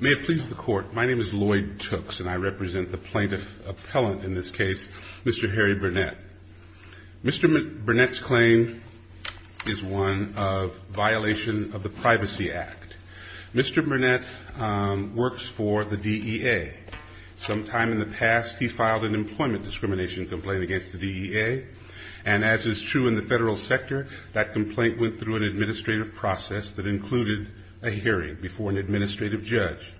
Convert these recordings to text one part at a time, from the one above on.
May it please the court, my name is Lloyd Tooks and I represent the plaintiff appellant in this case, Mr. Harry Burnett. Mr. Burnett's claim is one of violation of the Privacy Act. Mr. Burnett works for the DEA. Sometime in the past he filed an employment discrimination complaint against the DEA and as is true in the federal sector that complaint went through an administrative process that included a hearing before an administrative judge.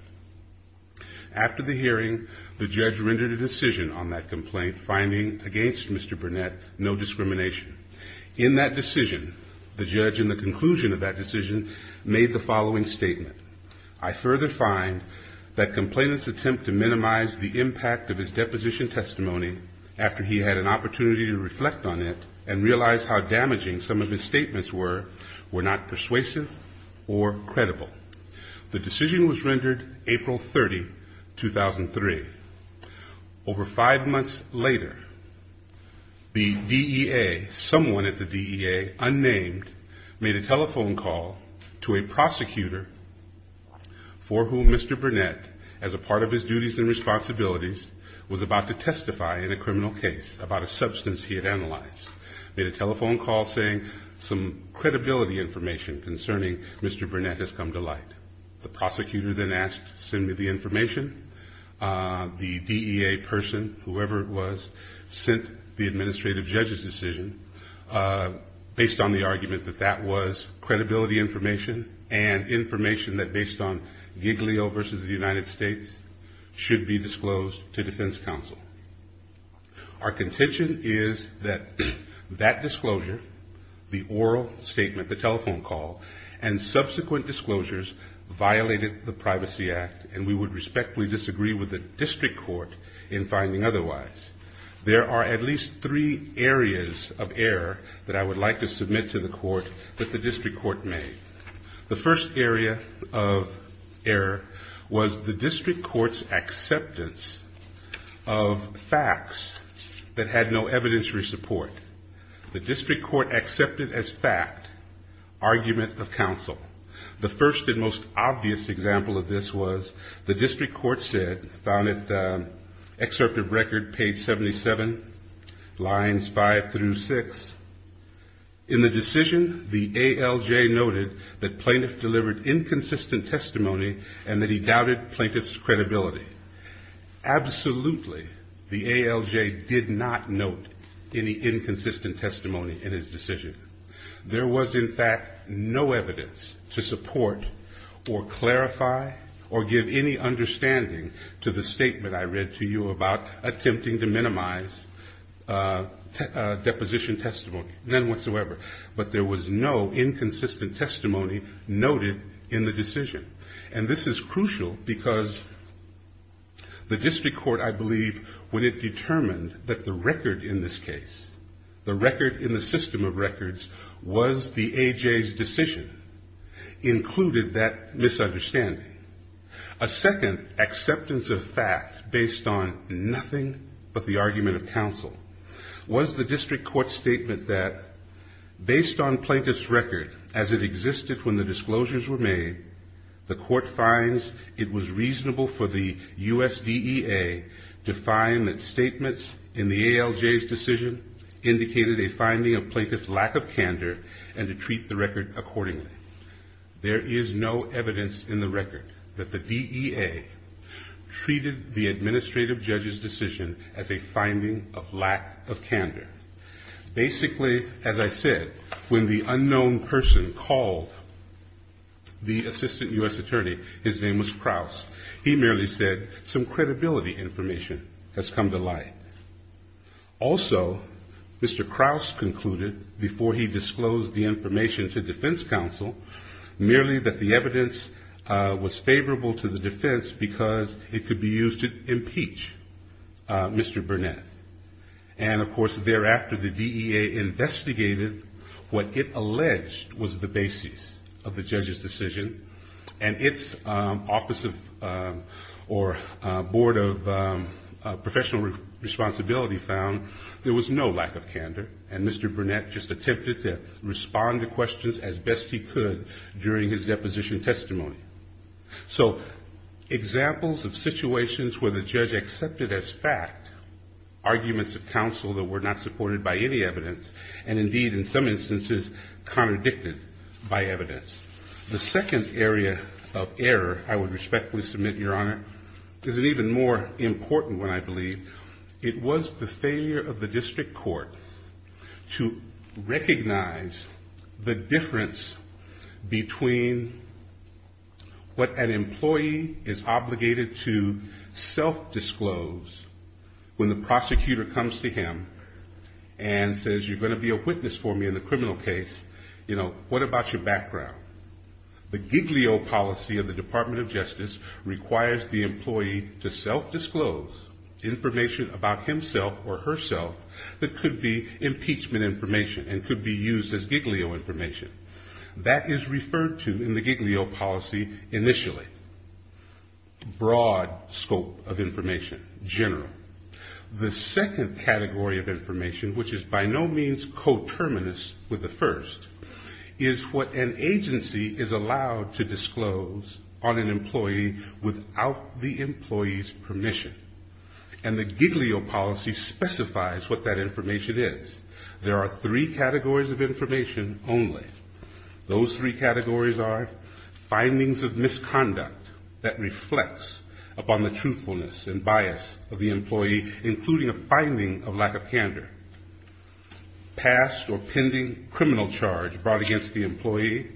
After the hearing the judge rendered a decision on that complaint finding against Mr. Burnett no discrimination. In that decision the judge in the conclusion of that decision made the following statement. I further find that complainant's attempt to minimize the impact of his deposition testimony after he had an opportunity to reflect on it and realize how damaging some of his statements were were not persuasive or credible. The decision was rendered April 30, 2003. Over five months later the DEA, someone at the DEA, unnamed made a telephone call to a prosecutor for whom Mr. Burnett as a part of his duties and responsibilities was about to testify in a criminal case about a substance he had analyzed. He made a telephone call saying some credibility information concerning Mr. Burnett has come to light. The prosecutor then asked to send me the information. The DEA person, whoever it was, sent the administrative judge's decision based on the argument that that was credibility information and information that based on Giglio versus the United States should be disclosed to defense counsel. Our contention is that that disclosure the oral statement, the telephone call and subsequent disclosures violated the Privacy Act and we would respectfully disagree with the district court in finding otherwise. There are at least three areas of error that I would like to submit to the court that the district court made. The first area of error was the district court's acceptance of facts that had no evidentiary support. The district court accepted as fact argument of counsel. The first and most obvious example of this was the district court said, found it excerpt of record page seventy seven lines five through six, in the decision the ALJ noted that plaintiff delivered inconsistent testimony and that he doubted plaintiff's credibility. Absolutely the ALJ did not note any inconsistent testimony in his decision. There was in fact no evidence to support or clarify or give any understanding to the statement I read to you about attempting to minimize deposition testimony, none whatsoever. But there was no inconsistent testimony noted in the decision. And this is crucial because the district court I believe when it determined that the record in this case, the record in the system of records was the AJ's decision included that misunderstanding. A second acceptance of fact based on nothing but the argument of counsel was the district court's statement that based on plaintiff's record as it existed when the disclosures were made the court finds it was reasonable for the USDA DEA to find that statements in the ALJ's decision indicated a finding of plaintiff's lack of candor and to treat the record accordingly. There is no evidence in the record that the DEA treated the administrative judge's decision as a finding of lack of candor. Basically as I said when the unknown person called the assistant U.S. attorney, his name was Krause, he merely said some credibility information has come to light. Also Mr. Krause concluded before he disclosed the information to defense counsel merely that the evidence was favorable to the defense because it could be used to impeach Mr. Burnett. And of course thereafter the DEA investigated what it alleged was the basis of the judge's decision and its office of or board of professional responsibility found there was no lack of candor and Mr. Burnett just attempted to respond to questions as best he could during his deposition testimony. So examples of situations where the judge accepted as fact arguments of counsel that were not supported by any evidence and indeed in some instances contradicted by evidence. The second area of error I would respectfully submit your honor is even more important when I believe it was the failure of the district court to recognize the difference between what an employee is obligated to self-disclose when the prosecutor comes to him and says you're going to be a witness for me in the criminal case you know what about your background? The Giglio policy of the Department of Justice requires the employee to self-disclose information about himself or herself that could be impeachment information and could be used as Giglio information. That is referred to in the Giglio policy initially. Broad scope of information, general. The second category of information which is by no means coterminous with the first is what an agency is allowed to disclose on an employee without the employee's permission. And the Giglio policy specifies what that information is. There are three categories of information only. Those three categories are findings of misconduct that reflects upon the truthfulness and bias of the employee including a finding of lack of candor. Past or pending criminal charge brought against the employee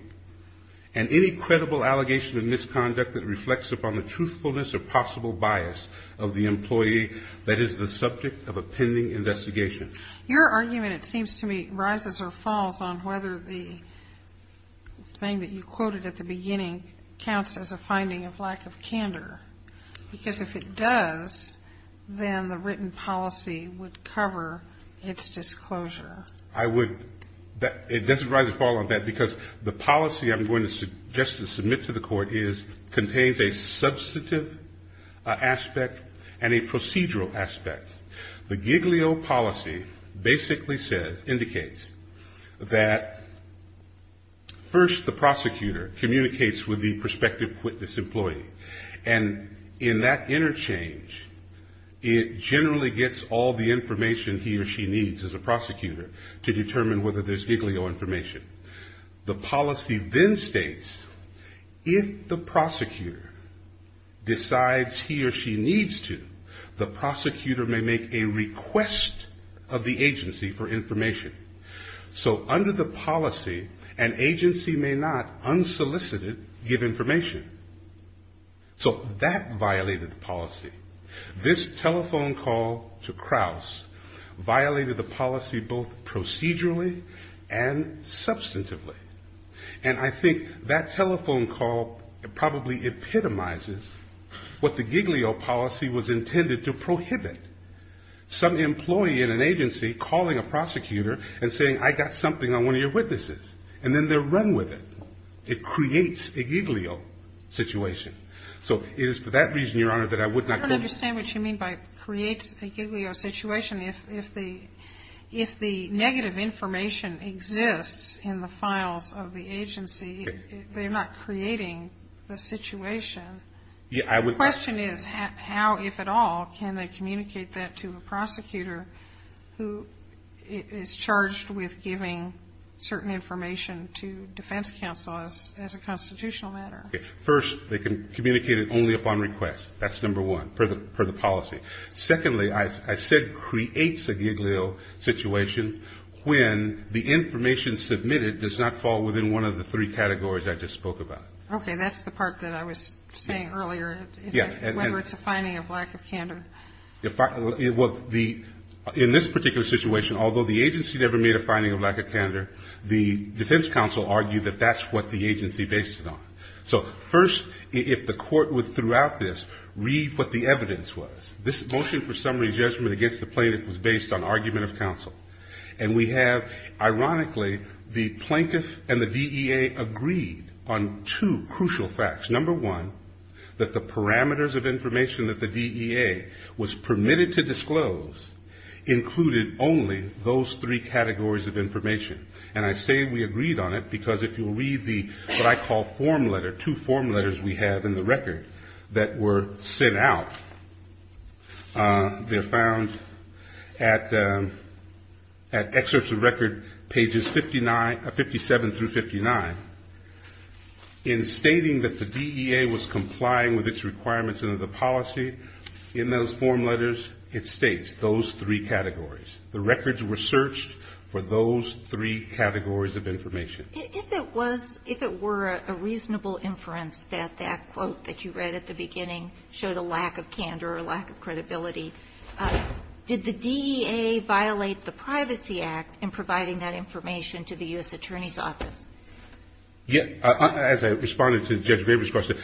and any credible allegation of misconduct that reflects upon the truthfulness or possible bias of the employee that is the subject of a pending investigation. Your argument it seems to me rises or falls on whether the thing that you quoted at the beginning counts as a finding of lack of candor because if it does then the written policy would cover its disclosure. I would it doesn't rise or fall on that because the policy I'm going to just to submit to the court is contains a substantive aspect and a procedural aspect. The Giglio policy basically says, indicates that first the prosecutor communicates with the prospective witness employee and in that interchange it generally gets all the information he or she needs as a prosecutor to determine whether there's Giglio information. The policy then states if the prosecutor decides he or she needs to the prosecutor may make a request of the agency for information. So under the policy an agency may not unsolicited give information. So that violated the policy. This telephone call to Krauss violated the policy both procedurally and substantively. And I think that telephone call probably epitomizes what the Giglio policy was intended to prohibit. Some employee in an agency calling a prosecutor and saying I got something on one of your witnesses and then they run with it. It creates a Giglio situation. So it is for that reason, Your Honor, that I would not go... I don't understand what you mean by creates a Giglio situation. If the negative information exists in the files of the agency they're not creating the situation. The question is how, if at all, can they communicate that to a prosecutor who is charged with giving certain information to defense counselors as a constitutional matter. First, they can communicate it only upon request. That's number one, per the policy. Secondly, I said creates a Giglio situation when the information submitted does not fall within one of the three categories I just spoke about. Okay, that's the part that I was saying earlier, whether it's a finding of lack of candor. Well, in this particular situation, although the agency never made a finding of lack of candor, the defense counsel argued that that's what the agency based it on. So first, if the court would throughout this read what the evidence was. This motion for summary judgment against the plaintiff was based on argument of counsel. And we have, ironically, the plaintiff and the DEA agreed on two crucial facts. Number one, that the parameters of information that the DEA was permitted to disclose included only those three categories of information. And I say we agreed on it because if you read the, what I call form letter, two form letters we have in the record that were sent out, they're found at excerpts of record pages 57 through 59 in stating that the DEA was complying with its requirements under the policy in those form letters, it states those three categories. The records were searched for those three categories of information. If it were a reasonable inference that that quote that you read at the beginning showed a lack of candor, a lack of credibility, did the DEA violate the Privacy Act in providing that information to the U.S. Attorney's Office? Yeah, as I responded to Judge Graber's question,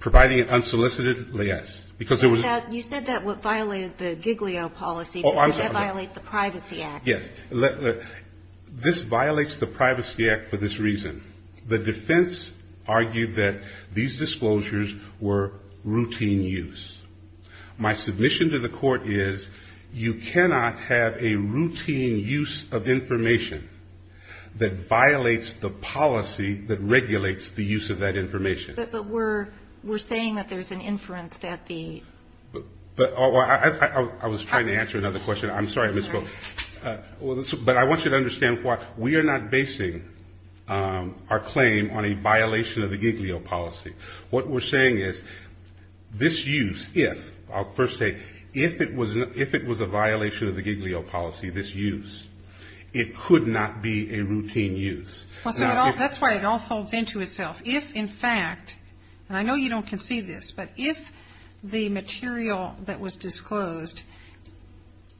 providing an unsolicited liaise. You said that violated the Giglio policy, but did that violate the Privacy Act? Yes. This violates the Privacy Act for this reason. The defense argued that these disclosures were routine use. My submission to the court is you cannot have a routine use of information that violates the policy that regulates the use of that information. But we're saying that there's an inference that the... I was trying to answer another question. I'm sorry I misspoke. But I want you to understand why we are not basing our claim on a violation of the Giglio policy. What we're saying is this use, if, I'll first say, if it was a violation of the Giglio policy, this use, it could not be a routine use. That's why it all folds into itself. If, in fact, and I know you don't concede this, but if the material that was disclosed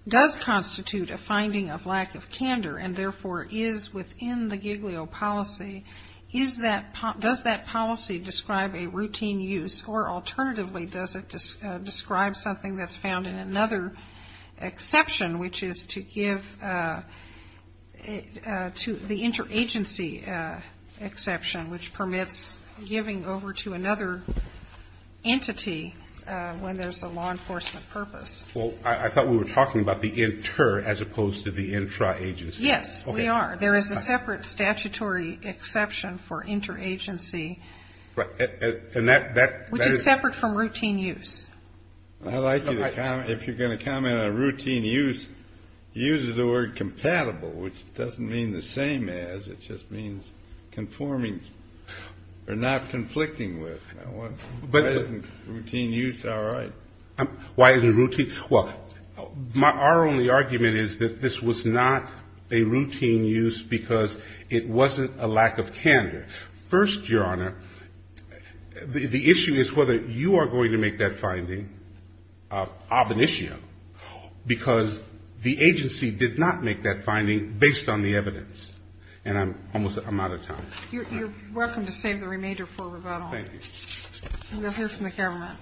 does constitute a finding of lack of candor and, therefore, is within the Giglio policy, does that policy describe a routine use? Or, alternatively, does it describe something that's found in another exception, which is to give to the inter-agency exception, which permits giving over to another entity when there's a law enforcement purpose? Well, I thought we were talking about the inter as opposed to the intra-agency. Yes, we are. There is a separate statutory exception for inter-agency which is separate from routine use. I'd like you to comment, if you're going to comment on routine use, use is a word compatible, which doesn't mean the same as, it just means conforming or not conflicting with. But isn't routine use all right? Why isn't it routine? Well, our only argument is that this was not a routine use because it wasn't a lack of candor. First, Your Honor, the issue is whether you are going to make that finding ob initio because the agency did not make that finding based on the evidence. And I'm out of time. You're welcome to save the remainder for rebuttal. We'll hear from the camera.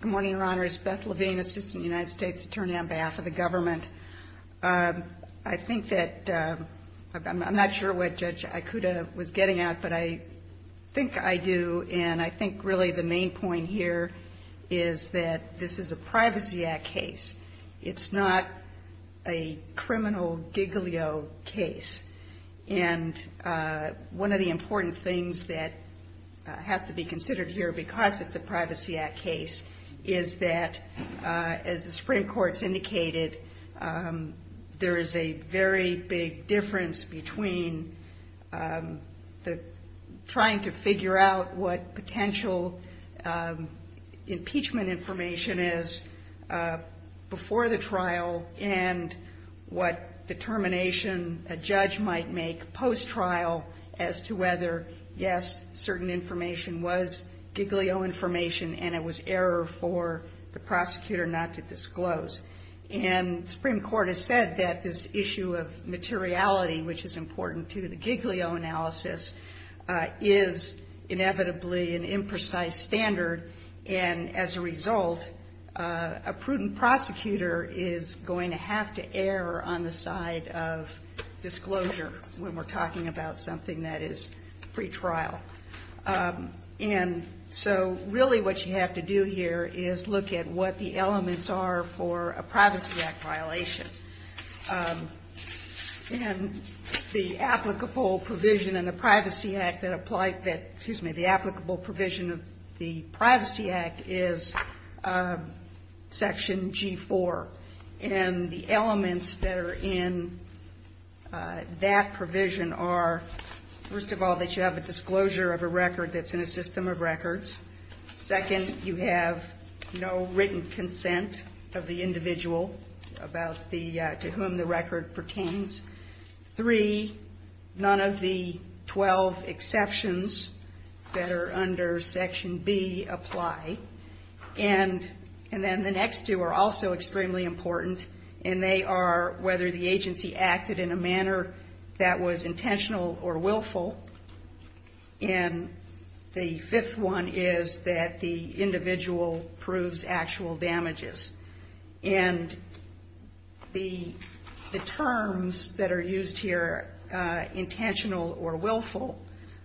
Good morning, Your Honors. Beth Levine, Assistant United States Attorney on behalf of the government. I think that I'm not sure what Judge Ikuda was getting at, but I think I do, and I think really the main point here is that this is a Privacy Act case. It's not a criminal giglio case. And one of the important things that has to be considered here because it's a Privacy Act case is that, as the Supreme Court's indicated, there is a very big difference between trying to figure out what potential impeachment information is before the trial and what determination a judge might make post-trial as to whether, yes, certain information was giglio information and it was error for the prosecutor not to disclose. And the Supreme Court has said that this issue of materiality, which is important to the is inevitably an imprecise standard and as a result a prudent prosecutor is going to have to err on the side of disclosure when we're talking about something that is pre-trial. So really what you have to do here is look at what the elements are for a Privacy Act violation. The applicable provision in the Privacy Act that applies, excuse me, the applicable provision of the Privacy Act is Section G4 and the elements that are in that provision are first of all that you have a disclosure of a record that's in a system of records, second, you have no written consent of the individual about to whom the record pertains, three, none of the twelve exceptions that are under Section B apply and then the next two are also extremely important and they are whether the agency acted in a manner that was intentional or willful and the fifth one is that the individual proves actual damages. And the terms that are used here, intentional or willful,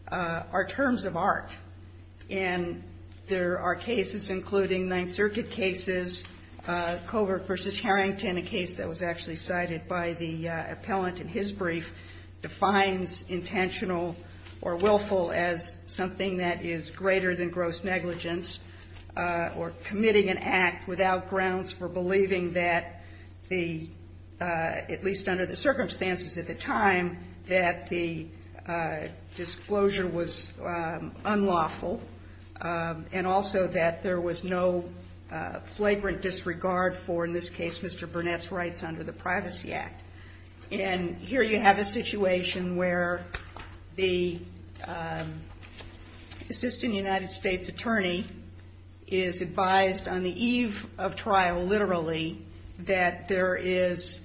are terms of art and there are cases including Ninth Circuit cases, Covert v. Harrington, a case that was actually cited by the appellant in his brief, defines intentional or willful as something that is greater than gross negligence or committing an act without grounds for believing that the at least under the circumstances at the time that the disclosure was unlawful and also that there was no flagrant disregard for, in this case, Mr. Burnett's rights under the Privacy Act. And here you have a situation where the assistant United States attorney is advised on the eve of trial, literally, that there is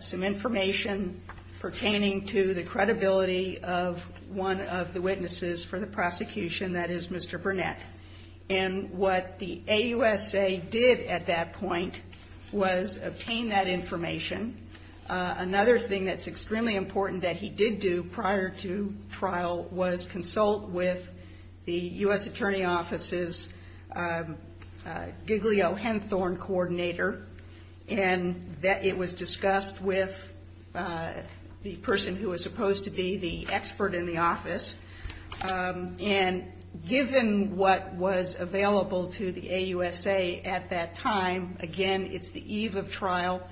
some information pertaining to the credibility of one of the witnesses for the prosecution, that is Mr. Burnett. And what the AUSA did at that point was obtain that information. Another thing that's extremely important that he did do prior to trial was consult with the U.S. Attorney Office's Giglio Henthorne coordinator and that it was discussed with the person who was supposed to be the expert in the office. And given what was available to the AUSA at that time, again, it's the eve of trial.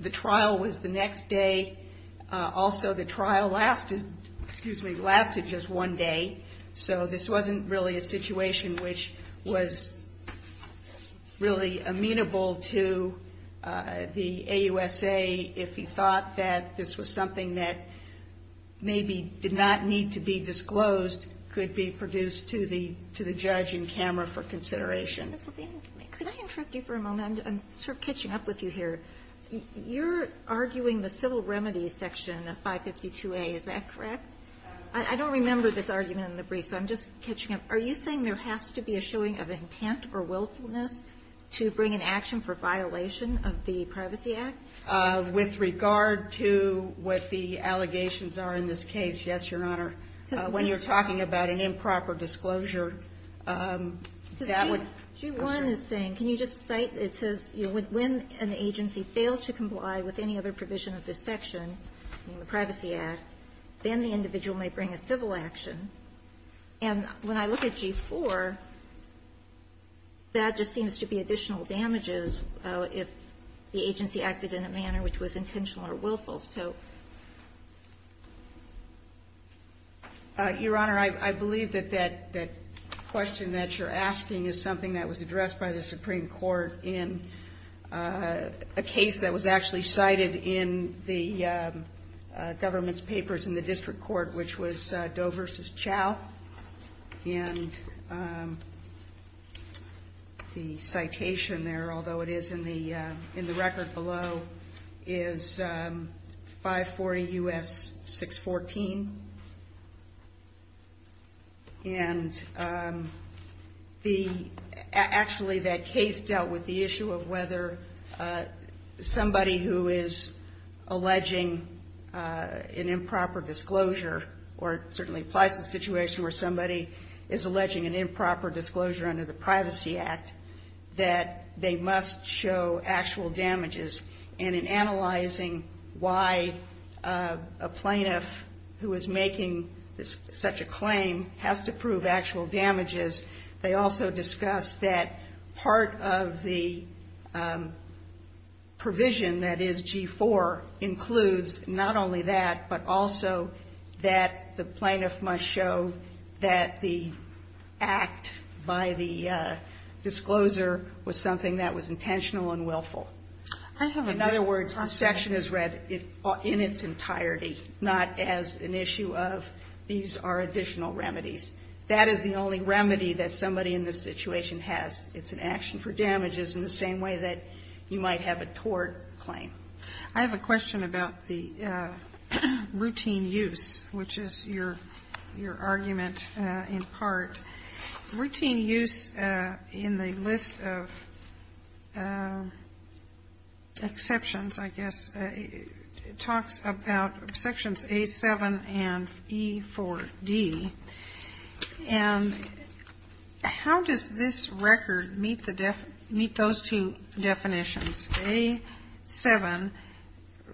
The trial was the next day. Also, the trial lasted just one day. So this wasn't really a situation which was really amenable to the AUSA if he thought that this was something that maybe did not need to be disclosed, could be produced to the judge in camera for consideration. Ms. Levine, could I interrupt you for a moment? I'm sort of catching up with you here. You're arguing the civil remedies section of 552A, is that correct? I don't remember this argument in the brief, so I'm just catching up. Are you saying there has to be a issuing of intent or willfulness to bring an action for violation of the Privacy Act? With regard to what the allegations are in this case, yes, Your Honor. When you're talking about an improper disclosure, that would G1 is saying, can you just cite, it says, when an agency fails to comply with any other provision of this section in the Privacy Act, then the individual may bring a civil action. And when I look at G4, that just seems to be additional damages if the agency acted in a manner which was intentional or willful. Your Honor, I believe that that question that you're asking is something that was addressed by the Supreme Court in a case that was actually cited in the government's papers in the district court, which was Doe v. Chow. The citation there, although it is in the record below, is 540 U.S. 614. Actually, that case dealt with the issue of whether somebody who is alleging an improper disclosure, or it certainly applies to the situation where somebody is alleging an improper disclosure under the Privacy Act, that they must show actual damages. And in analyzing why a plaintiff who is making such a claim has to prove actual damages, they also discussed that part of the G4 includes not only that, but also that the plaintiff must show that the act by the discloser was something that was intentional and willful. In other words, the section is read in its entirety, not as an issue of these are additional remedies. That is the only remedy that somebody in this situation has. It's an action for damages in the same way that you might have a tort claim. I have a question about the routine use, which is your argument in part. Routine use in the list of exceptions, I guess, talks about Sections A-7 and E-4-D. And how does this record meet those two sections? A-7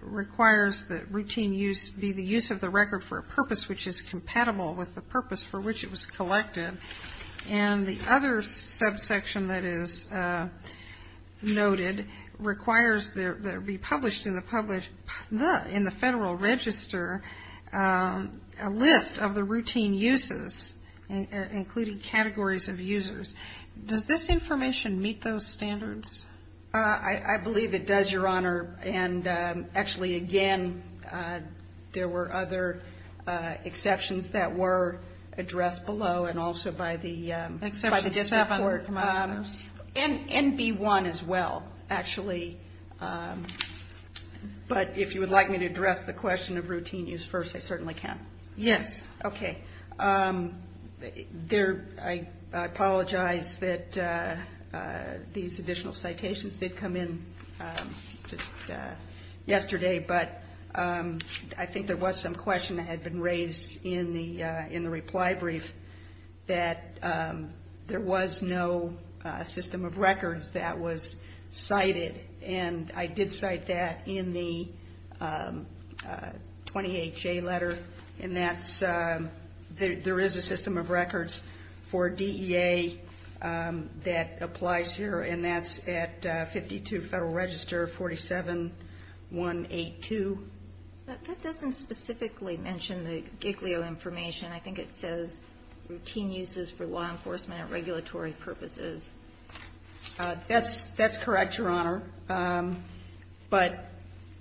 requires that routine use be the use of the record for a purpose which is compatible with the purpose for which it was collected. And the other subsection that is noted requires that it be published in the Federal Register a list of the routine uses, including categories of users. Does this information meet those standards? I believe it does, Your Honor. And actually, again, there were other exceptions that were addressed below and also by the District Court. And B-1 as well, actually. But if you would like me to address the question of routine use first, I certainly can. Yes. Okay. I apologize that these additional citations did come in yesterday, but I think there was some question that had been raised in the reply brief that there was no system of records that was cited. And I did cite that in the 20HA letter. And that's there is a system of records for DEA that applies here, and that's at 52 Federal Register 47182. That doesn't specifically mention the GIGLIO information. I think it says routine uses for law enforcement and regulatory purposes. That's correct, Your Honor. But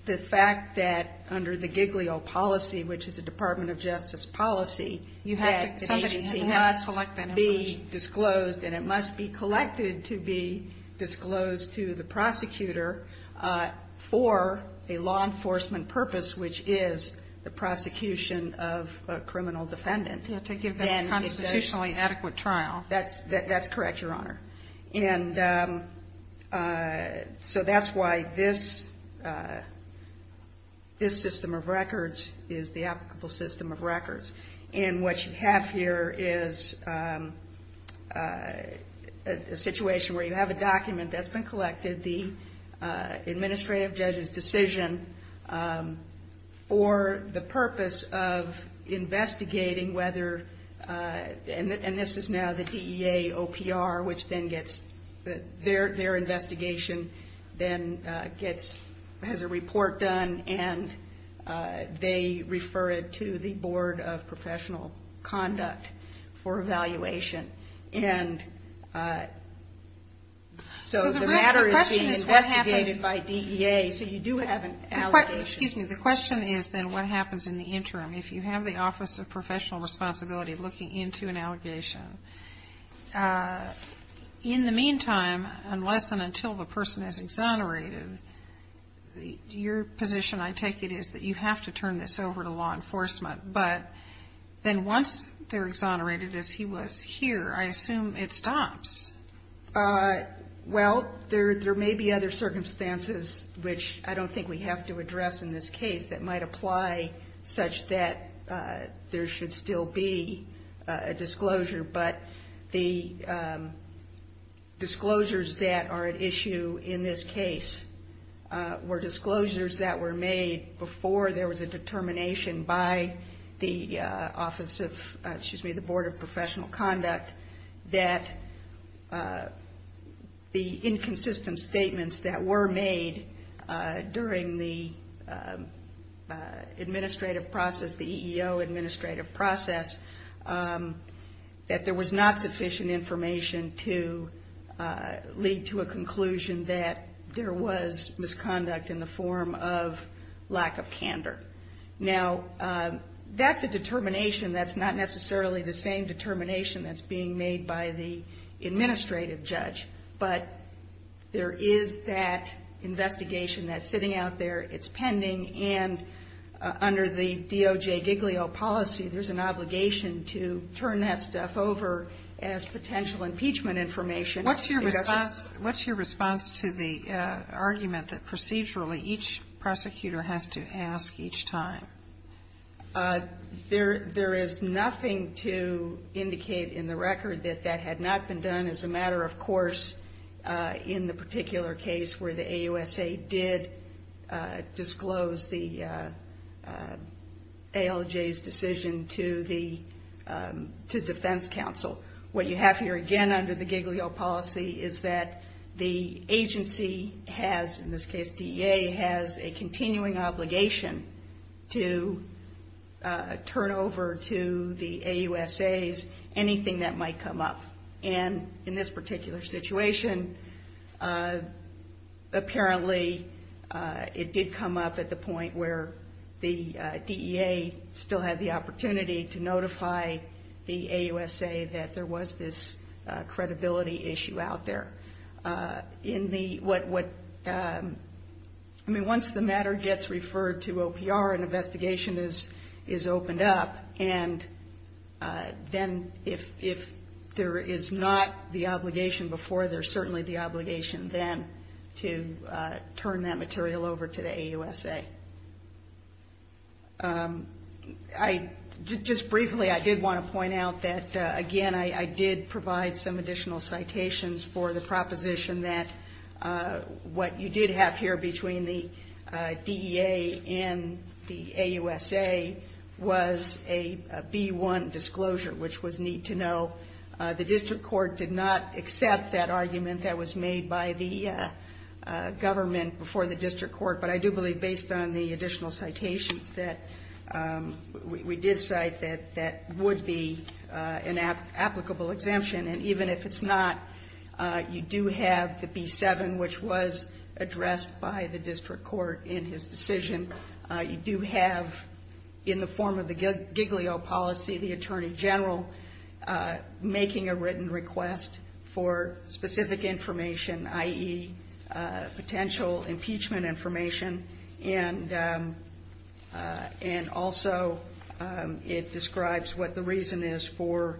the fact that under the GIGLIO policy, which is a Department of Justice policy, that an agency must be disclosed, and it must be collected to be disclosed to the prosecutor for a law enforcement purpose, which is the prosecution of a criminal defendant. To give a constitutionally adequate trial. That's correct, Your Honor. And so that's why this system of records is the applicable system of records. And what you have here is a situation where you have a document that's been collected, the administrative judge's decision for the purpose of investigating whether, and this is now the DEA OPR, which then gets their investigation then gets has a report done and they refer it to the Board of Professional Conduct for evaluation. And so the matter is being investigated by DEA, so you do have an allegation. Excuse me. The question is then what happens in the interim if you have the Office of Professional Responsibility looking into an allegation? In the meantime, unless and until the person is exonerated, your position, I take it, is that you have to turn this over to law enforcement. But then once they're exonerated, as he was here, I assume it stops. Well, there may be other circumstances, which I don't think we have to address in this case, that might apply such that there should still be a disclosure. But the disclosures that were made before there was a determination by the Office of, excuse me, the Board of Professional Conduct that the inconsistent statements that were made during the administrative process, the EEO administrative process, that there was not sufficient information to lead to a conclusion that there was misconduct in the form of lack of candor. Now, that's a determination that's not necessarily the same determination that's being made by the administrative judge. But there is that investigation that's sitting out there. It's pending, and under the DOJ Giglio policy, there's an obligation to turn that stuff over as potential impeachment information. What's your response to the argument that procedurally each prosecutor has to ask each time? There is nothing to indicate in the record that that had not been done as a matter of course in the particular case where the AUSA did disclose the ALJ's decision to the Defense Council. What you have here again under the Giglio policy is that the agency has, in this case DEA, has a continuing obligation to turn over to the AUSA's anything that might come up. And in this particular situation, apparently it did come up at the point where the DEA still had the opportunity to notify the AUSA that there was this credibility issue out there. I mean, once the matter gets referred to OPR, an investigation is opened up, and then if there is not the obligation before, there's certainly the obligation then to turn that material over to the AUSA. Just briefly, I did want to point out that again, I did provide some additional citations for the proposition that what you did have here between the DEA and the AUSA was a B-1 disclosure, which was need to know. The district court did not accept that argument that was made by the government before the district court, but I do believe based on the additional citations that we did cite that that would be an applicable exemption. And even if it's not, you do have the B-7, which was addressed by the district court in his decision. You do have, in the form of the Giglio policy, the Attorney General making a written request for specific information, i.e., potential impeachment information, and also it describes what the reason is for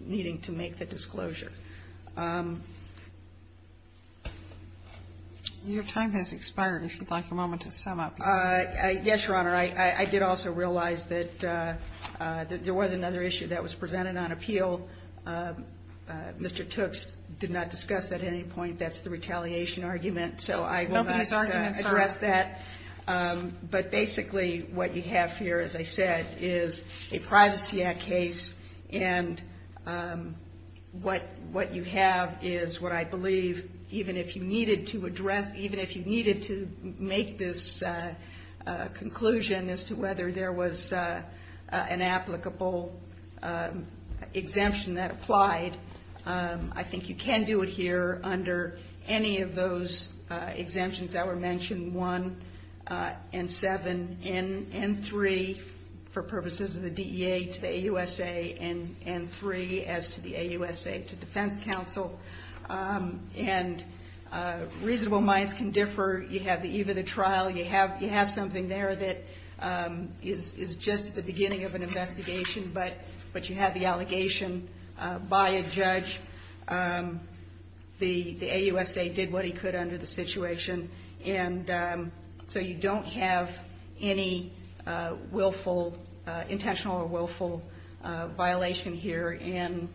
needing to make the disclosure. Your time has expired, if you'd like a moment to sum up. Yes, Your Honor. I did also realize that there was another issue that was presented on appeal. Mr. Tooks did not discuss that at any point. That's the retaliation argument, so I will not address that. But basically what you have here, as I said, is a Privacy Act case, and what you have is what I believe, even if you needed to address, even if you needed to make this conclusion as to whether there was an applicable exemption that applied, I think you can do it here under any of those exemptions that were mentioned, 1, and 7, and 3, for purposes of the DEA, to the AUSA, and 3, as to the AUSA, to Defense Counsel. And reasonable minds can differ. You have the eve of the trial, you have something there that is just the beginning of an investigation, but you have the allegation by a judge. The AUSA did what he could under the situation, and so you don't have any willful, intentional or willful violation here, and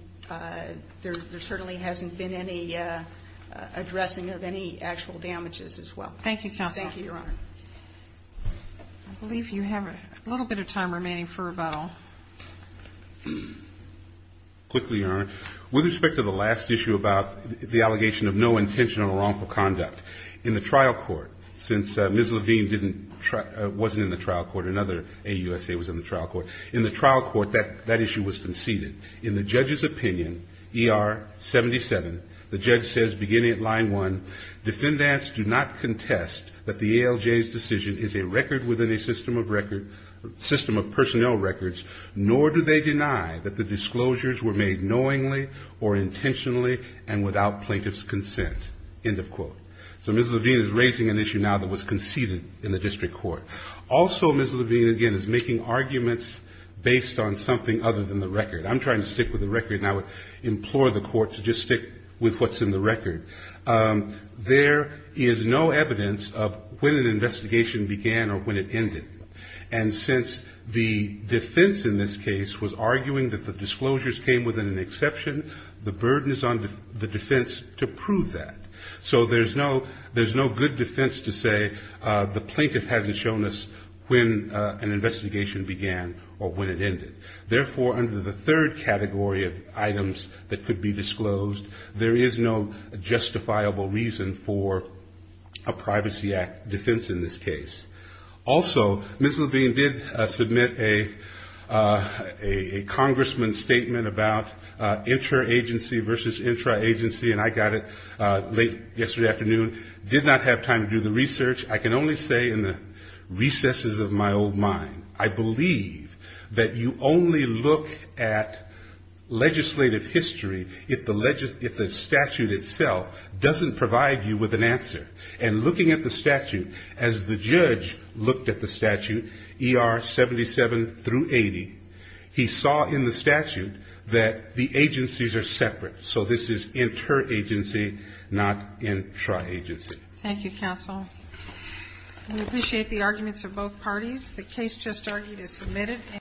there certainly hasn't been any addressing of any actual damages as well. Thank you, Counsel. I believe you have a little bit of time remaining for rebuttal. Quickly, Your Honor. With respect to the last issue about the allegation of no intentional or wrongful conduct, in the trial court, since Ms. Levine wasn't in the trial court, another AUSA was in the trial court, in the trial court that issue was conceded. In the judge's opinion, ER 77, the judge says, beginning at line one, defendants do not contest that the ALJ's decision is a record within a system of record, system of personnel records, nor do they deny that the disclosures were made knowingly or intentionally and without plaintiff's consent, end of quote. So Ms. Levine is raising an issue now that was conceded in the district court. Also, Ms. Levine, again, is making arguments based on something other than the record. I'm trying to stick with the record and I would with what's in the record. There is no evidence of when an investigation began or when it ended. And since the defense in this case was arguing that the disclosures came within an exception, the burden is on the defense to prove that. So there's no good defense to say the plaintiff hasn't shown us when an investigation began or when it ended. Therefore, under the third category of items that could be disclosed, there is no justifiable reason for a Privacy Act defense in this case. Also, Ms. Levine did submit a congressman's statement about inter-agency versus intra-agency and I got it late yesterday afternoon. I did not have time to do the research. I can only say in the recesses of my old mind, I believe that you only look at legislative history if the statute itself doesn't provide you with an answer. And looking at the statute, as the judge looked at the statute, ER 77 through 80, he saw in the statute that the agencies are separate. So this is inter-agency, not intra-agency. Thank you, counsel. We appreciate the arguments of both parties. The case just argued is submitted.